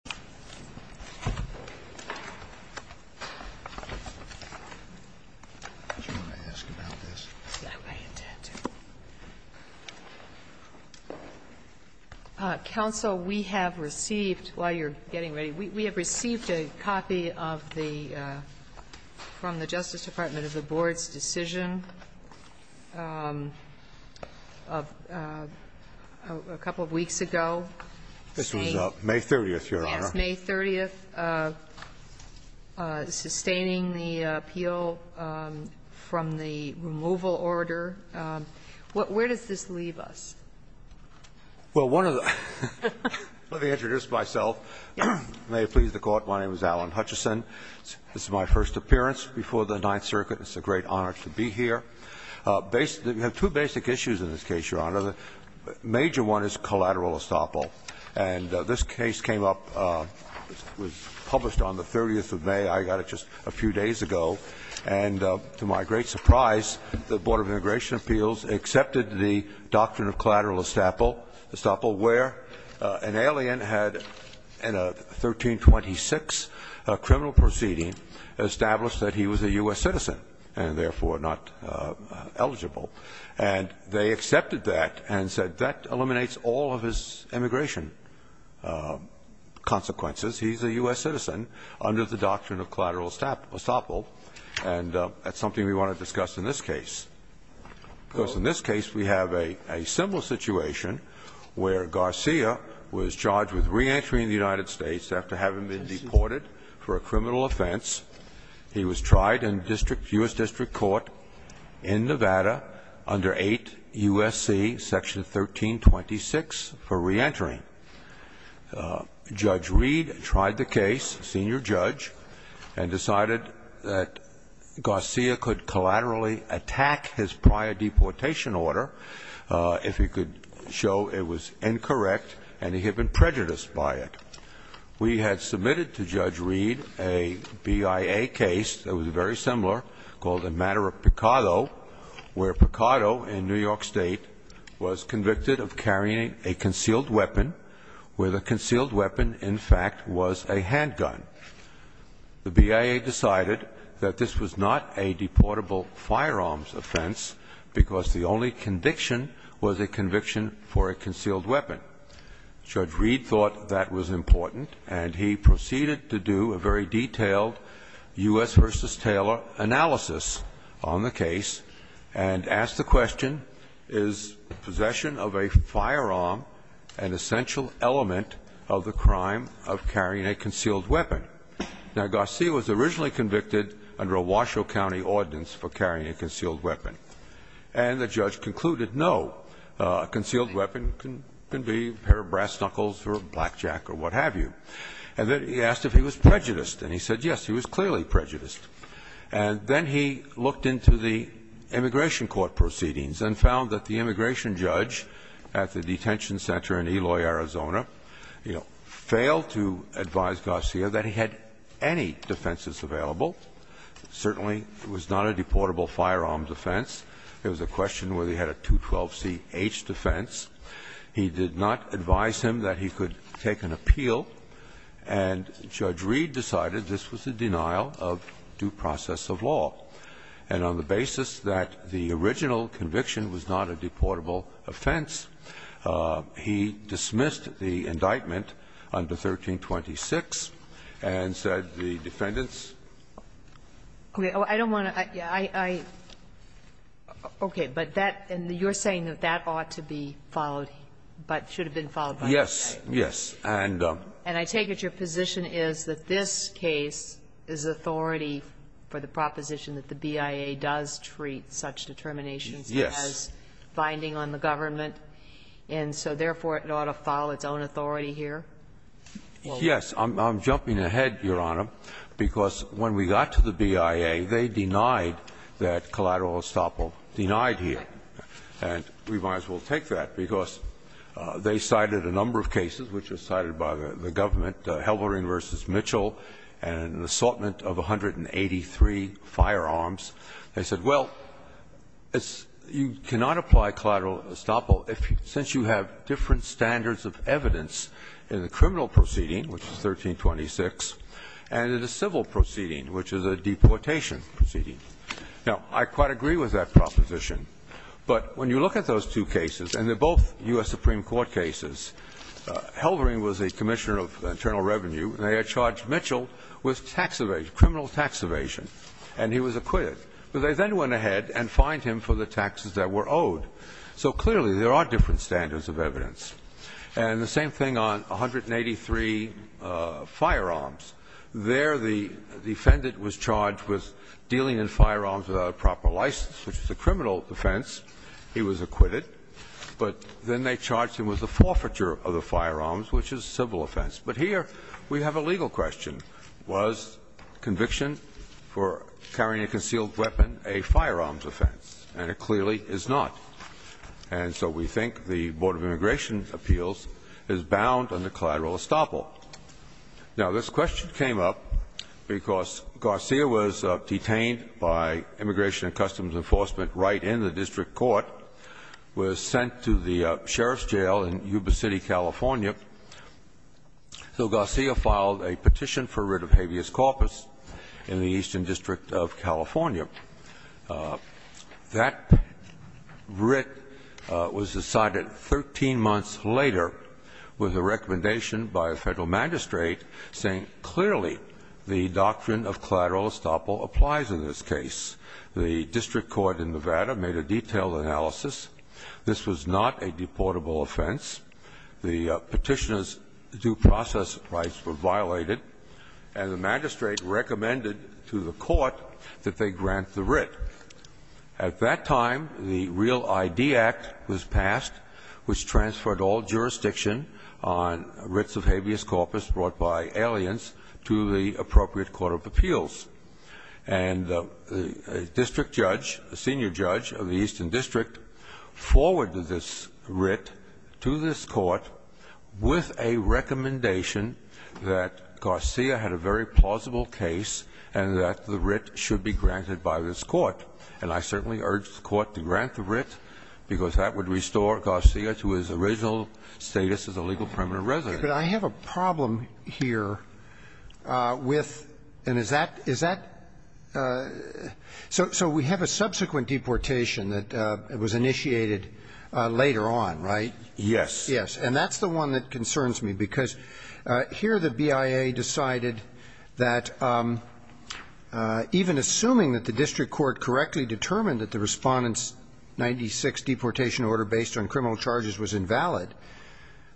May 30, 2011 Board of Trustees Meeting, Page 12 Council, we have received, while you're getting ready, we have received a copy of the, from the Justice Department of the Board's decision a couple of weeks ago. This was May 30th, Your Honor. Yes, May 30th, sustaining the appeal from the removal order. Where does this leave us? Well, one of the ---- let me introduce myself. May it please the Court, my name is Alan Hutchison. This is my first appearance before the Ninth Circuit. It's a great honor to be here. We have two basic issues in this case, Your Honor. The major one is collateral estoppel. And this case came up, was published on the 30th of May. I got it just a few days ago. And to my great surprise, the Board of Immigration Appeals accepted the doctrine of collateral estoppel, where an alien had, in a 1326 criminal proceeding, established that he was a U.S. citizen, and therefore not eligible. And they accepted that and said that eliminates all of his immigration consequences. He's a U.S. citizen under the doctrine of collateral estoppel. And that's something we want to discuss in this case. Because in this case, we have a simple situation where Garcia was charged with re-entering the United States after having been deported for a criminal offense. He was tried in U.S. District Court in Nevada under 8 U.S.C. Section 1326 for re-entering. Judge Reed tried the case, senior judge, and decided that Garcia could collaterally attack his prior deportation order if he could show it was incorrect and he had been prejudiced by it. We had submitted to Judge Reed a BIA case that was very similar called the matter of Picado, where Picado in New York State was convicted of carrying a concealed weapon, where the concealed weapon, in fact, was a handgun. The BIA decided that this was not a deportable firearms offense, because the only conviction was a conviction for a concealed weapon. Judge Reed thought that was important, and he proceeded to do a very detailed U.S. versus Taylor analysis on the case, and asked the question, is possession of a firearm an essential element of the crime of carrying a concealed weapon? Now, Garcia was originally convicted under a Washoe County ordinance for carrying a concealed weapon. And the judge concluded, no, a concealed weapon can be a pair of brass knuckles or a blackjack or what have you. And then he asked if he was prejudiced, and he said, yes, he was clearly prejudiced. And then he looked into the immigration court proceedings and found that the immigration judge at the detention center in Eloy, Arizona, you know, failed to advise Garcia that he had any defenses available. Certainly, it was not a deportable firearms offense. There was a question whether he had a 212CH defense. He did not advise him that he could take an appeal. And Judge Reed decided this was a denial of due process of law. And on the basis that the original conviction was not a deportable offense, he dismissed the indictment under 1326 and said the defendants And I take that your position is that this case is authority for the proposition that the BIA does treat such determinations. Yes. As finding on the government and therefore, it ought to follow its own authority Yes. Because when we got to the BIA, they denied that Collateral Estoppel denied here. And we might as well take that, because they cited a number of cases, which are cited by the government, Halvorin v. Mitchell, and an assortment of 183 firearms. They said, well, it's you cannot apply Collateral Estoppel if, since you have different standards of evidence in the criminal proceeding, which is 1326, and in a civil proceeding, which is a deportation proceeding. Now, I quite agree with that proposition. But when you look at those two cases, and they're both U.S. Supreme Court cases, Halvorin was a commissioner of internal revenue, and they had charged Mitchell with tax evasion, criminal tax evasion, and he was acquitted. But they then went ahead and fined him for the taxes that were owed. So clearly, there are different standards of evidence. And the same thing on 183 firearms. There, the defendant was charged with dealing in firearms without a proper license, which is a criminal offense. He was acquitted. But then they charged him with the forfeiture of the firearms, which is a civil offense. But here, we have a legal question. Was conviction for carrying a concealed weapon a firearms offense? And it clearly is not. And so we think the Board of Immigration Appeals is bound under collateral estoppel. Now, this question came up because Garcia was detained by Immigration and Customs Enforcement right in the district court, was sent to the sheriff's jail in Yuba City, California. So Garcia filed a petition for writ of habeas corpus in the Eastern District of California. That writ was decided 13 months later with a recommendation by a Federal magistrate saying clearly the doctrine of collateral estoppel applies in this case. The district court in Nevada made a detailed analysis. This was not a deportable offense. The Petitioner's due process rights were violated, and the magistrate recommended to the court that they grant the writ. At that time, the Real I.D. Act was passed, which transferred all jurisdiction on writs of habeas corpus brought by aliens to the appropriate court of appeals. And a district judge, a senior judge of the Eastern District, forwarded this writ to this court with a recommendation that Garcia had a very plausible case, and that the writ should be granted by this court. And I certainly urge the court to grant the writ, because that would restore Garcia to his original status as a legal permanent resident. But I have a problem here with – and is that – is that – so we have a subsequent deportation that was initiated later on, right? Yes. Yes. And that's the one that concerns me, because here the BIA decided that even assuming that the district court correctly determined that the Respondent's 96 deportation order based on criminal charges was invalid,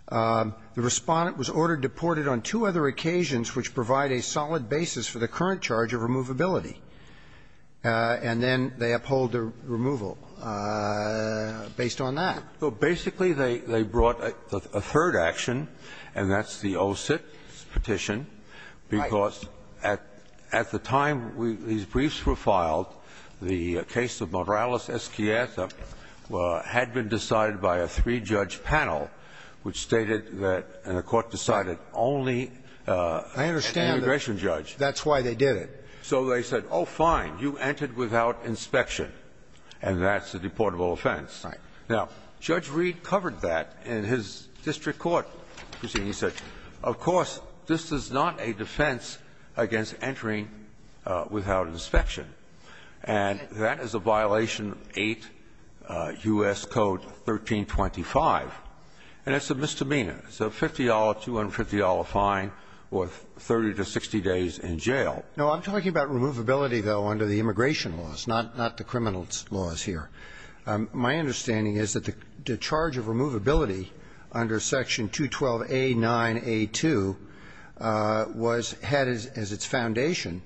the Respondent was ordered deported on two other occasions which provide a solid basis for the current charge of removability, and then they uphold the removal based on that. Well, basically, they brought a third action, and that's the OSIT petition. Right. Because at the time these briefs were filed, the case of Morales-Esquieta had been decided by a three-judge panel, which stated that – and the court decided only an immigration judge. I understand that's why they did it. So they said, oh, fine, you entered without inspection, and that's a deportable offense. Right. Now, Judge Reed covered that in his district court proceeding. He said, of course, this is not a defense against entering without inspection. And that is a violation of 8 U.S. Code 1325. And it's a misdemeanor. It's a $50, $250 fine or 30 to 60 days in jail. No, I'm talking about removability, though, under the immigration laws, not the criminal laws here. My understanding is that the charge of removability under Section 212A9A2 was – had as its foundation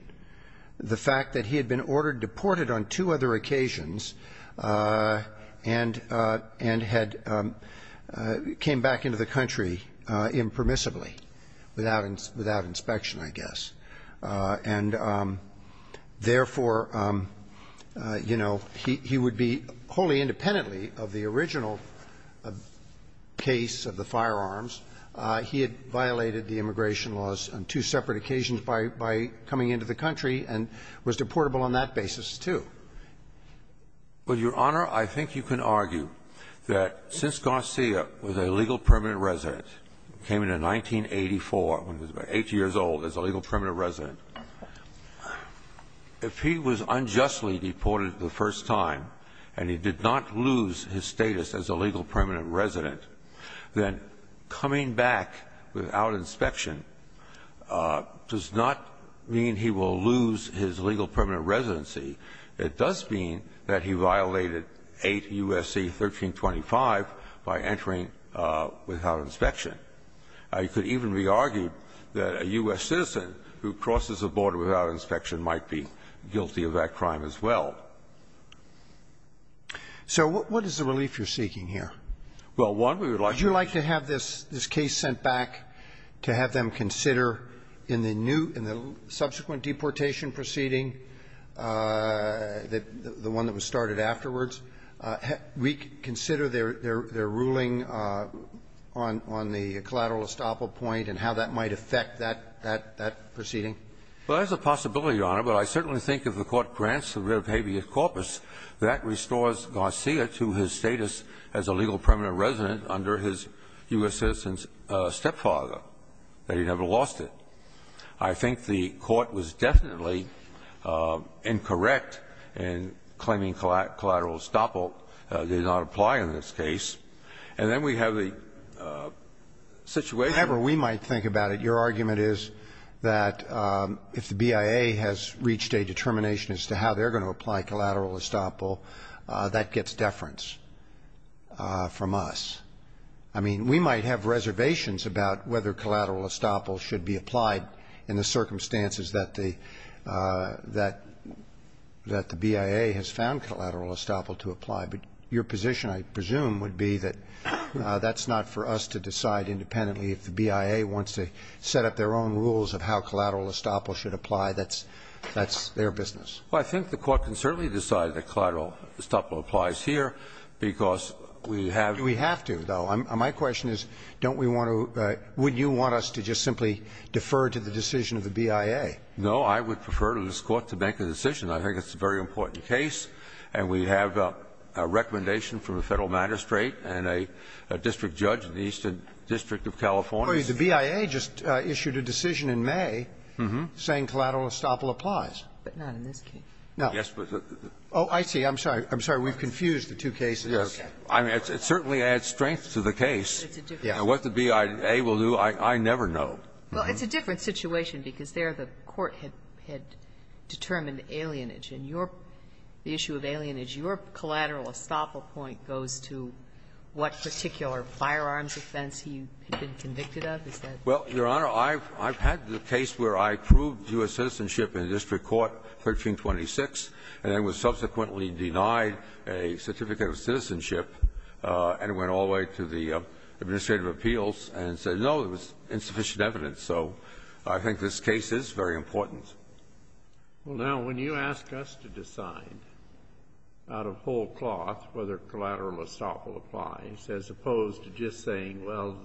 the fact that he had been ordered deported on two other occasions and had – came back into the country impermissibly, without inspection, I guess. And, therefore, you know, he would be wholly independently of the original case of the firearms. He had violated the immigration laws on two separate occasions by coming into the country and was deportable on that basis, too. Well, Your Honor, I think you can argue that since Garcia was a legal permanent resident, came in in 1984, when he was about 8 years old, as a legal permanent resident, if he was unjustly deported the first time and he did not lose his status as a legal permanent resident, then coming back without inspection does not mean he will lose his legal permanent residency. It does mean that he violated 8 U.S.C. 1325 by entering without inspection. It could even be argued that a U.S. citizen who crosses a border without inspection might be guilty of that crime as well. So what is the relief you're seeking here? Well, one, we would like to have this case sent back to have them consider in the new – in the subsequent deportation proceeding, the one that was started afterwards, we consider their ruling on the collateral estoppel point and how that might affect that proceeding. Well, there's a possibility, Your Honor, but I certainly think if the Court grants the writ of habeas corpus, that restores Garcia to his status as a legal permanent resident under his U.S. citizen's stepfather, that he never lost it. I think the Court was definitely incorrect in claiming collateral estoppel did not apply in this case, and then we have the situation – However we might think about it, your argument is that if the BIA has reached a determination as to how they're going to apply collateral estoppel, that gets deference from us. I mean, we might have reservations about whether collateral estoppel should be applied in the circumstances that the – that the BIA has found collateral estoppel to apply. But your position, I presume, would be that that's not for us to decide independently. If the BIA wants to set up their own rules of how collateral estoppel should apply, that's – that's their business. Well, I think the Court can certainly decide that collateral estoppel applies here because we have – Do we have to, though? My question is, don't we want to – would you want us to just simply defer to the decision of the BIA? No. I would prefer to this Court to make a decision. I think it's a very important case, and we have a recommendation from the Federal Magistrate and a district judge in the Eastern District of California. The BIA just issued a decision in May saying collateral estoppel applies. But not in this case. No. Yes, but the – Oh, I see. I'm sorry. I'm sorry. We've confused the two cases. I mean, it certainly adds strength to the case. It's a different situation. What the BIA will do, I never know. Well, it's a different situation because there the Court had determined alienage. In your – the issue of alienage, your collateral estoppel point goes to what particular firearms offense he had been convicted of? Is that the case? Well, Your Honor, I've had the case where I proved U.S. citizenship in a district court, 1326, and I was subsequently denied a certificate of citizenship and went all the way to the administrative appeals and said, no, there was insufficient evidence. So I think this case is very important. Well, now, when you ask us to decide out of whole cloth whether collateral estoppel applies, as opposed to just saying, well,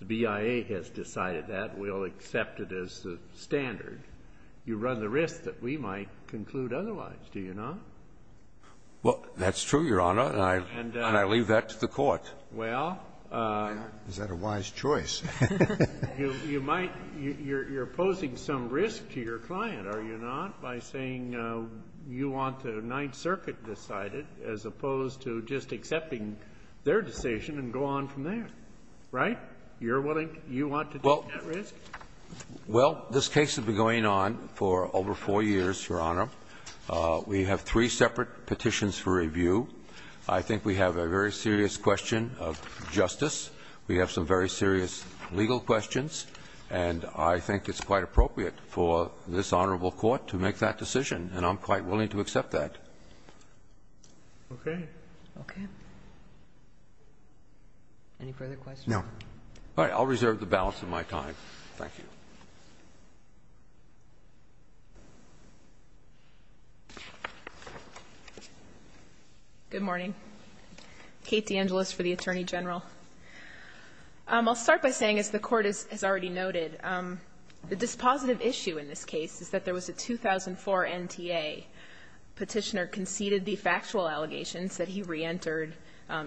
the BIA has decided that, we'll accept it as the standard, you run the risk that we might conclude otherwise, do you not? Well, that's true, Your Honor, and I leave that to the Court. Well, you might – you're posing some risk to your client, are you not, by saying you want the Ninth Circuit decided, as opposed to just accepting their decision and go on from there, right? You're willing – you want to take that risk? Well, this case has been going on for over 4 years, Your Honor. We have three separate petitions for review. I think we have a very serious question of justice. We have some very serious legal questions, and I think it's quite appropriate for this honorable court to make that decision, and I'm quite willing to accept that. Okay. Okay. Any further questions? No. All right. I'll reserve the balance of my time. Thank you. Good morning. Kate DeAngelis for the Attorney General. I'll start by saying, as the Court has already noted, the dispositive issue in this case is that there was a 2004 NTA Petitioner conceded the factual allegations that he reentered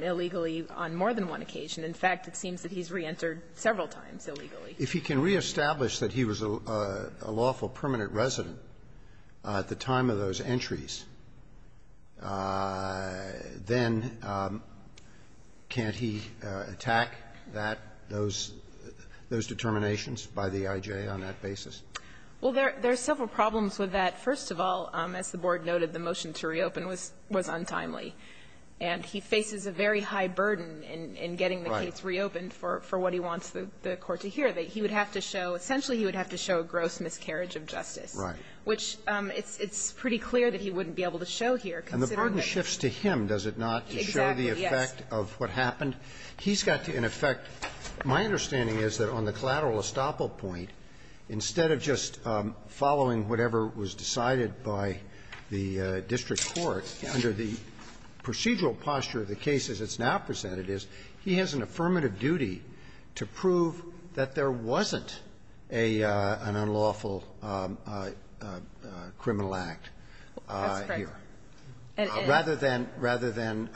illegally on more than one occasion. In fact, it seems that he's reentered several times illegally. If he can reestablish that he was a lawful permanent resident at the time of those entries, then can't he attack that, those determinations by the I.J. on that basis? Well, there are several problems with that. First of all, as the Board noted, the motion to reopen was untimely, and he faces a very high burden in getting the case reopened for what he wants the Court to hear. And part of it, he would have to show – essentially, he would have to show a gross miscarriage of justice, which it's pretty clear that he wouldn't be able to show here, considering that he's been there. And the burden shifts to him, does it not, to show the effect of what happened? Exactly. Yes. He's got to, in effect – my understanding is that on the collateral estoppel point, instead of just following whatever was decided by the district court, under the procedural posture of the case as it's now presented is, he has an affirmative duty to prove that there wasn't an unlawful criminal act here. That's correct. Rather than – rather than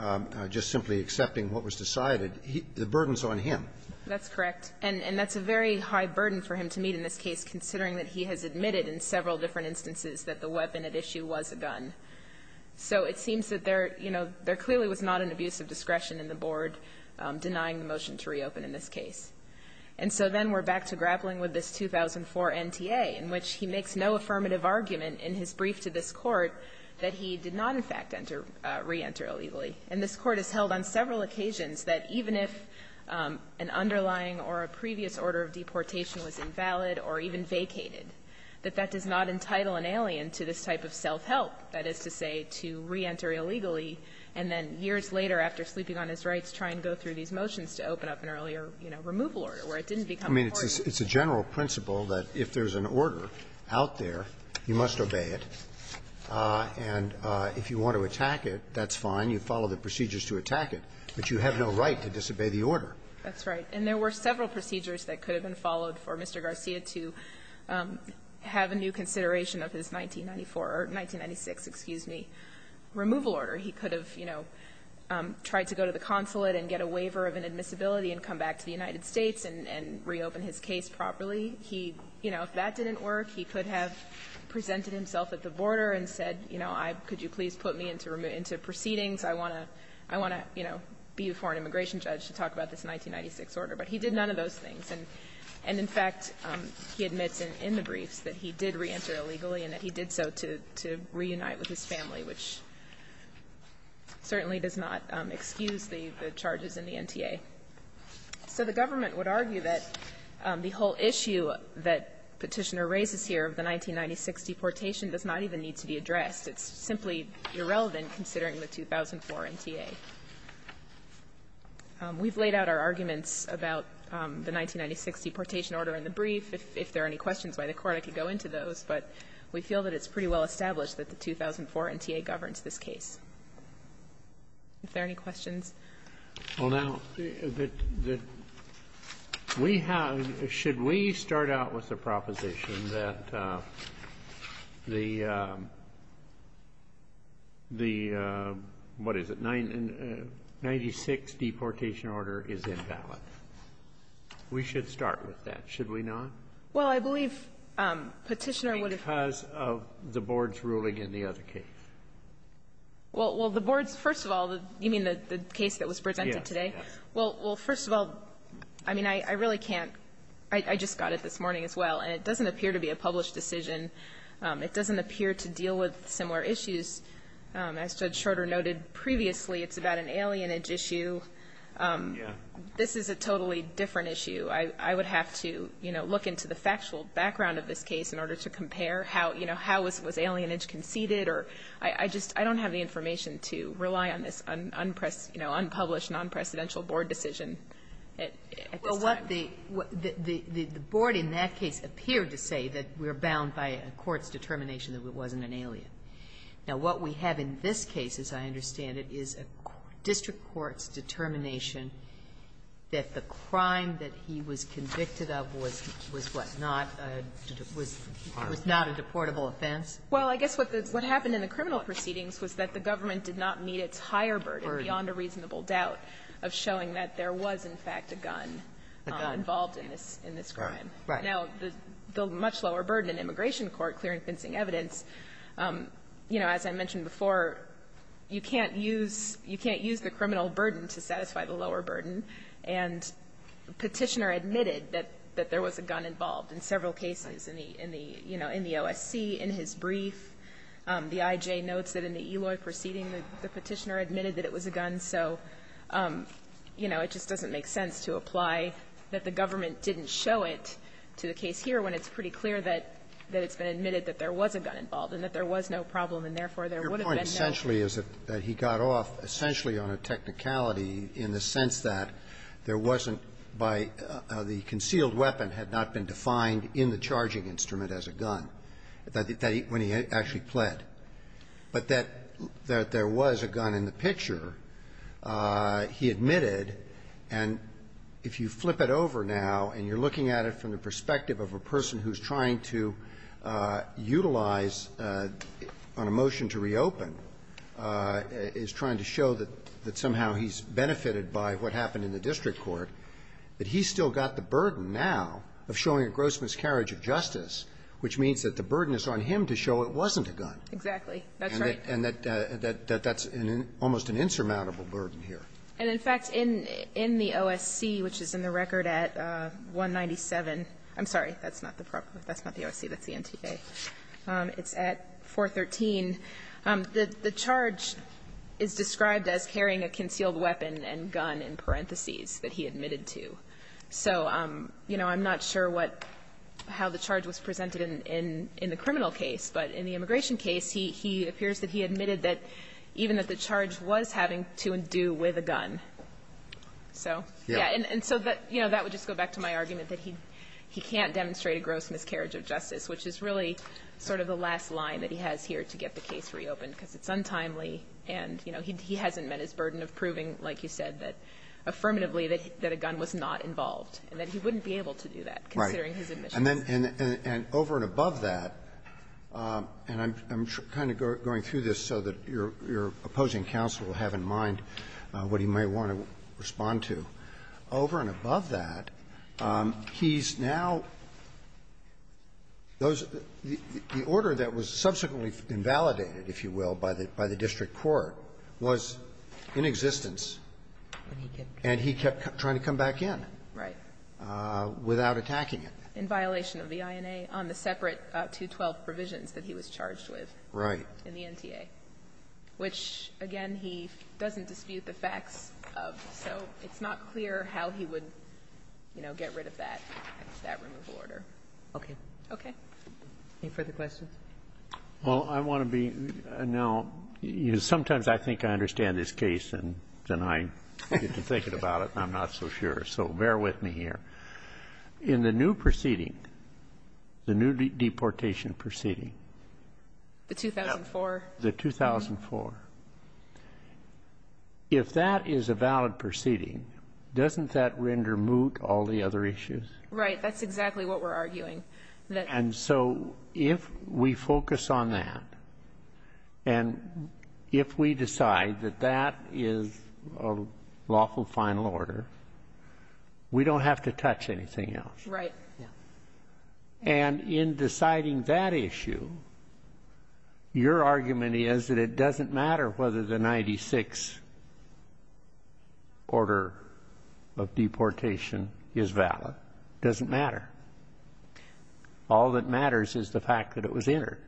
just simply accepting what was decided, the burden's on him. That's correct. And that's a very high burden for him to meet in this case, considering that he has admitted in several different instances that the weapon at issue was a gun. So it seems that there, you know, there clearly was not an abuse of discretion in the board denying the motion to reopen in this case. And so then we're back to grappling with this 2004 NTA, in which he makes no affirmative argument in his brief to this Court that he did not, in fact, enter – reenter illegally. And this Court has held on several occasions that even if an underlying or a previous order of deportation was invalid or even vacated, that that does not entitle an alien to this type of self-help, that is to say to reenter illegally, and then years later after sleeping on his rights, try and go through these motions to open up an earlier, you know, removal order where it didn't become important. I mean, it's a general principle that if there's an order out there, you must obey it. And if you want to attack it, that's fine. You follow the procedures to attack it, but you have no right to disobey the order. That's right. And there were several procedures that could have been followed for Mr. Garcia to have a new consideration of his 1994 or 1996, excuse me, removal order. He could have, you know, tried to go to the consulate and get a waiver of inadmissibility and come back to the United States and reopen his case properly. He, you know, if that didn't work, he could have presented himself at the border and said, you know, I – could you please put me into proceedings? I want to – I want to, you know, be a foreign immigration judge to talk about this 1996 order. But he did none of those things. And in fact, he admits in the briefs that he did reenter illegally and that he did so to reunite with his family, which certainly does not excuse the charges in the NTA. So the government would argue that the whole issue that Petitioner raises here of the 1996 deportation does not even need to be addressed. It's simply irrelevant considering the 2004 NTA. We've laid out our arguments about the 1996 deportation order in the brief. If there are any questions by the Court, I could go into those. But we feel that it's pretty well established that the 2004 NTA governs this case. If there are any questions. Well, now, the – we have – should we start out with the proposition that the – what is it, 1996 deportation order is invalid? We should start with that, should we not? Well, I believe Petitioner would have – Because of the Board's ruling in the other case. Well, the Board's – first of all, you mean the case that was presented today? Yes. Well, first of all, I mean, I really can't – I just got it this morning as well. And it doesn't appear to be a published decision. It doesn't appear to deal with similar issues. As Judge Schroeder noted previously, it's about an alienage issue. Yes. This is a totally different issue. I would have to, you know, look into the factual background of this case in order to compare how, you know, how was alienage conceded or – I just – I don't have the information to rely on this unpublished, non-presidential Board decision at this time. Well, what the – the Board in that case appeared to say that we're bound by a court's determination that it wasn't an alien. Now, what we have in this case, as I understand it, is a district court's determination that the crime that he was convicted of was what, not a – was not a deportable offense? Well, I guess what happened in the criminal proceedings was that the government did not meet its higher burden beyond a reasonable doubt of showing that there was, in fact, a gun involved in this crime. Right. Now, the much lower burden in immigration court, clearing fencing evidence, you know, as I mentioned before, you can't use – you can't use the criminal burden to satisfy the lower burden. And Petitioner admitted that there was a gun involved in several cases, in the – in the, you know, in the OSC, in his brief. The IJ notes that in the Eloy proceeding, the Petitioner admitted that it was a gun. So, you know, it just doesn't make sense to apply that the government didn't show it to the case here when it's pretty clear that it's been admitted that there was a gun involved and that there was no problem, and therefore there would have been no – there would have been no possibility in the sense that there wasn't by – the concealed weapon had not been defined in the charging instrument as a gun, that he – when he actually pled. But that there was a gun in the picture, he admitted, and if you flip it over now and you're looking at it from the perspective of a person who's trying to utilize on a motion to reopen, is trying to show that somehow he's benefited by what happened in the district court, that he's still got the burden now of showing a gross miscarriage of justice, which means that the burden is on him to show it wasn't a gun. And that's almost an insurmountable burden here. And, in fact, in the OSC, which is in the record at 197 – I'm sorry, that's not the proper – that's not the OSC, that's the NTA. It's at 413. The charge is described as carrying a concealed weapon and gun, in parentheses, that he admitted to. So, you know, I'm not sure what – how the charge was presented in the criminal case, but in the immigration case, he appears that he admitted that – even that the charge was having to do with a gun. So, yeah. And so that – you know, that would just go back to my argument that he can't demonstrate a gross miscarriage of justice, which is really sort of the last line that he has here to get the case reopened, because it's untimely, and, you know, he hasn't met his burden of proving, like you said, that affirmatively that a gun was not involved, and that he wouldn't be able to do that, considering his admissions. Roberts. And then over and above that, and I'm kind of going through this so that your opposing counsel will have in mind what he may want to respond to, over and above that, he's now – those – the order that was subsequently invalidated, if you will, by the district court, was in existence, and he kept trying to come back in. Right. Without attacking it. In violation of the INA on the separate 212 provisions that he was charged with. Right. In the NTA, which, again, he doesn't dispute the facts of, so it's not clear how he would, you know, get rid of that. That's that removal order. Okay. Okay. Any further questions? Well, I want to be – now, sometimes I think I understand this case, and then I get to thinking about it, and I'm not so sure, so bear with me here. In the new proceeding, the new deportation proceeding. The 2004? The 2004. If that is a valid proceeding, doesn't that render moot all the other issues? Right. That's exactly what we're arguing. And so, if we focus on that, and if we decide that that is a lawful final order, we don't have to touch anything else. Right. Yeah. And in deciding that issue, your argument is that it doesn't matter whether the 96 order of deportation is valid. It doesn't matter. All that matters is the fact that it was entered.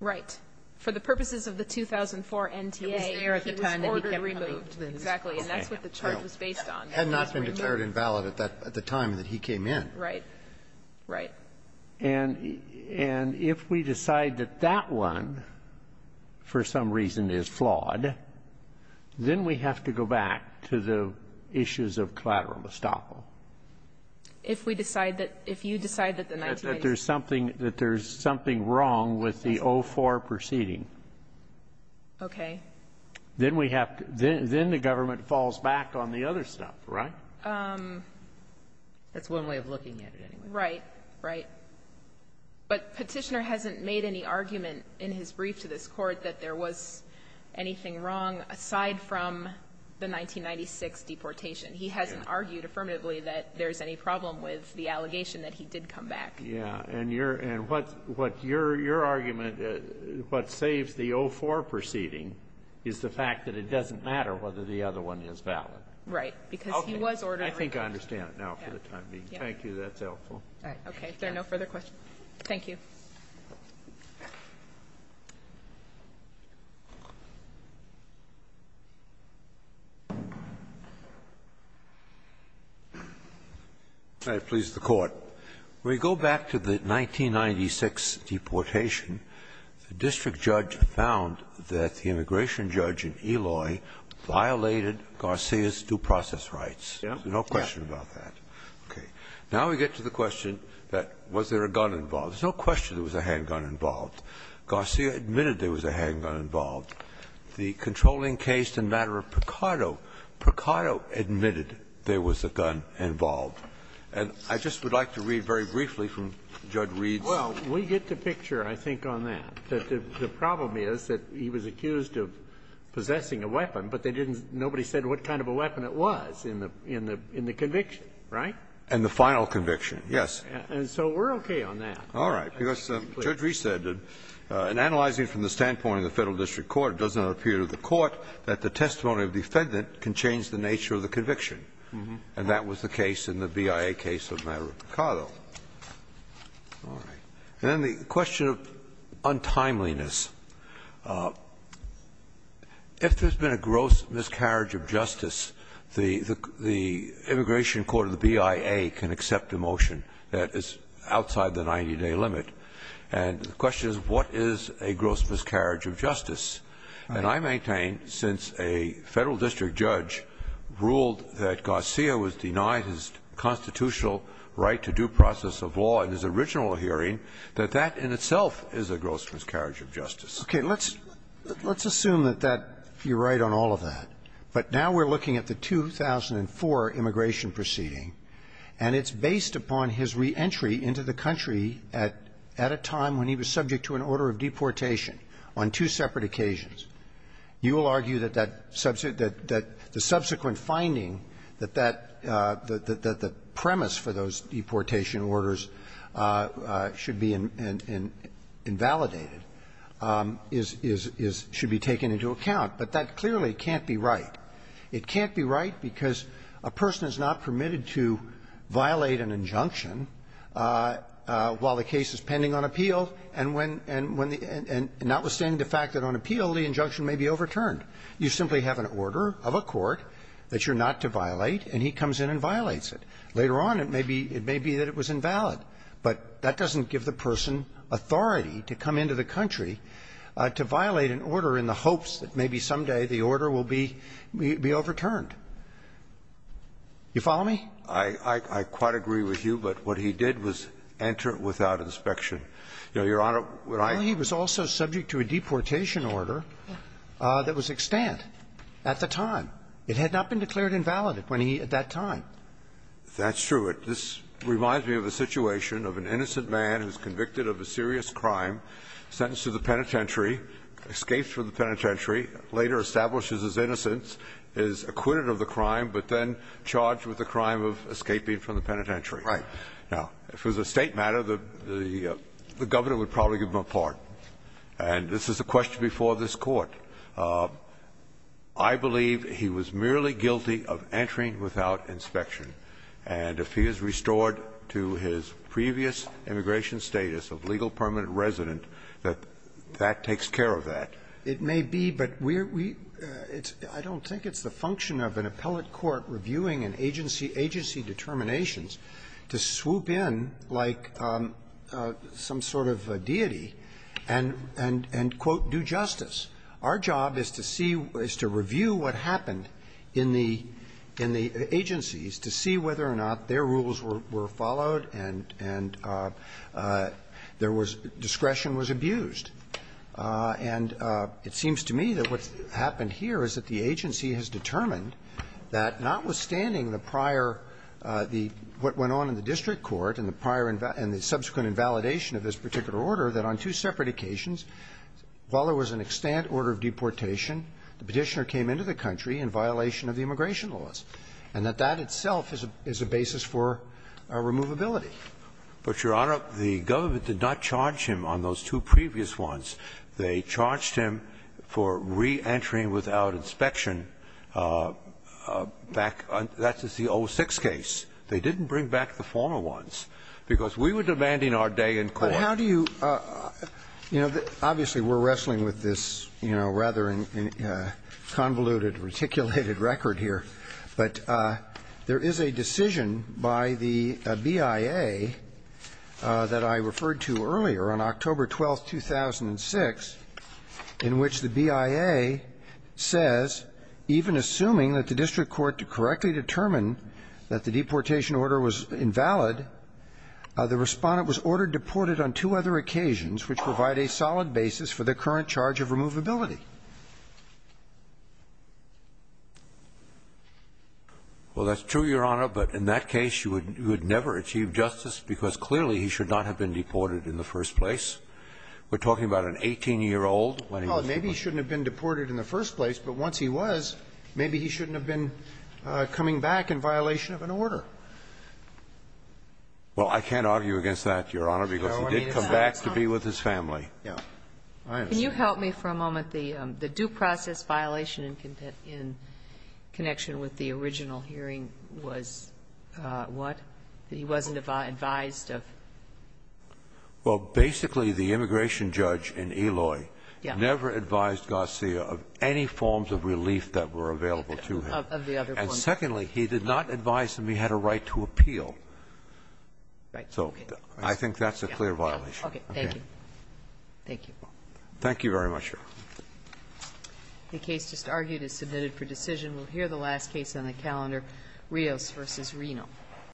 Right. For the purposes of the 2004 NTA, he was there at the time that he got removed. Exactly. And that's what the charge was based on. Had not been declared invalid at that – at the time that he came in. Right. Right. And if we decide that that one, for some reason, is flawed, then we have to go back to the issues of collateral estoppel. If we decide that – if you decide that the 1990s – That there's something – that there's something wrong with the 04 proceeding. Okay. Then we have to – then the government falls back on the other stuff, right? That's one way of looking at it, anyway. Right. Right. But Petitioner hasn't made any argument in his brief to this Court that there was anything wrong aside from the 1996 deportation. He hasn't argued affirmatively that there's any problem with the allegation that he did come back. Yeah. And your – and what – what your – your argument – what saves the 04 proceeding is the fact that it doesn't matter whether the other one is valid. Right. Because he was ordered – I think I understand now for the time being. Thank you. That's helpful. All right. Okay. If there are no further questions, thank you. Can I please the Court? When you go back to the 1996 deportation, the district judge found that the immigration judge in Eloy violated Garcia's due process rights. Yeah. No question about that. Okay. Now we get to the question that was there a gun involved. There's no question there was a handgun involved. Garcia admitted there was a handgun involved. The controlling case in matter of Picardo, Picardo admitted there was a gun involved. And I just would like to read very briefly from Judge Reed's – Well, we get the picture, I think, on that. The problem is that he was accused of possessing a weapon, but they didn't – nobody said what kind of a weapon it was in the conviction, right? And the final conviction, yes. And so we're okay on that. All right. Because Judge Reed said, Analyzing from the standpoint of the Federal district court, it does not appear to the court that the testimony of the defendant can change the nature of the conviction. And that was the case in the BIA case of matter of Picardo. All right. And then the question of untimeliness. If there's been a gross miscarriage of justice, the immigration court of the BIA can accept a motion that is outside the 90-day limit. And the question is, what is a gross miscarriage of justice? And I maintain, since a Federal district judge ruled that Garcia was denied his constitutional right to due process of law in his original hearing, that that in itself is a gross miscarriage of justice. Okay. Let's assume that that – you're right on all of that. But now we're looking at the 2004 immigration proceeding, and it's based upon his reentry into the country at a time when he was subject to an order of deportation on two separate occasions. You will argue that that – that the subsequent finding that that – that the premise for those deportation orders should be invalidated is – should be taken into account. But that clearly can't be right. It can't be right because a person is not permitted to violate an injunction while the case is pending on appeal. And when – and notwithstanding the fact that on appeal the injunction may be overturned, you simply have an order of a court that you're not to violate, and he comes in and violates it. Later on, it may be – it may be that it was invalid. But that doesn't give the person authority to come into the country to violate an order in the hopes that maybe someday the order will be – be overturned. You follow me? I – I quite agree with you. But what he did was enter without inspection. Your Honor, when I – Well, he was also subject to a deportation order that was extant at the time. It had not been declared invalid when he – at that time. That's true. This reminds me of a situation of an innocent man who's convicted of a serious crime, sentenced to the penitentiary, escapes from the penitentiary, later establishes innocence, is acquitted of the crime, but then charged with the crime of escaping from the penitentiary. Right. Now, if it was a State matter, the – the Governor would probably give him a pardon. And this is a question before this Court. I believe he was merely guilty of entering without inspection. And if he is restored to his previous immigration status of legal permanent resident, that that takes care of that. It may be, but we're – we – it's – I don't think it's the function of an appellate court reviewing an agency – agency determinations to swoop in like some sort of deity and – and quote, do justice. Our job is to see – is to review what happened in the – in the agencies to see whether or not their rules were – were followed and – and there was – discretion was abused. And it seems to me that what's happened here is that the agency has determined that notwithstanding the prior – the – what went on in the district court and the prior – and the subsequent invalidation of this particular order, that on two separate occasions, while there was an extant order of deportation, the Petitioner came into the country in violation of the immigration laws, and that that itself is a – is a basis for a removability. But, Your Honor, the government did not charge him on those two previous ones. They charged him for reentering without inspection back – that's the 06 case. They didn't bring back the former ones, because we were demanding our day in court. But how do you – you know, obviously, we're wrestling with this, you know, rather than convoluted, reticulated record here. But there is a decision by the BIA that I referred to earlier on October 12th, 2006, in which the BIA says, even assuming that the district court correctly determined that the deportation order was invalid, the respondent was ordered deported on two other Well, that's true, Your Honor, but in that case, you would never achieve justice, because clearly he should not have been deported in the first place. We're talking about an 18-year-old when he was deported. Well, maybe he shouldn't have been deported in the first place, but once he was, maybe he shouldn't have been coming back in violation of an order. Well, I can't argue against that, Your Honor, because he did come back to be with his family. Yeah. I understand. Could you help me for a moment? The due process violation in connection with the original hearing was what? He wasn't advised of? Well, basically, the immigration judge in Eloy never advised Garcia of any forms of relief that were available to him. Of the other forms. And secondly, he did not advise him he had a right to appeal. Right. So I think that's a clear violation. Okay. Thank you. Thank you. Thank you very much, Your Honor. The case just argued is submitted for decision. We'll hear the last case on the calendar, Rios v. Reno.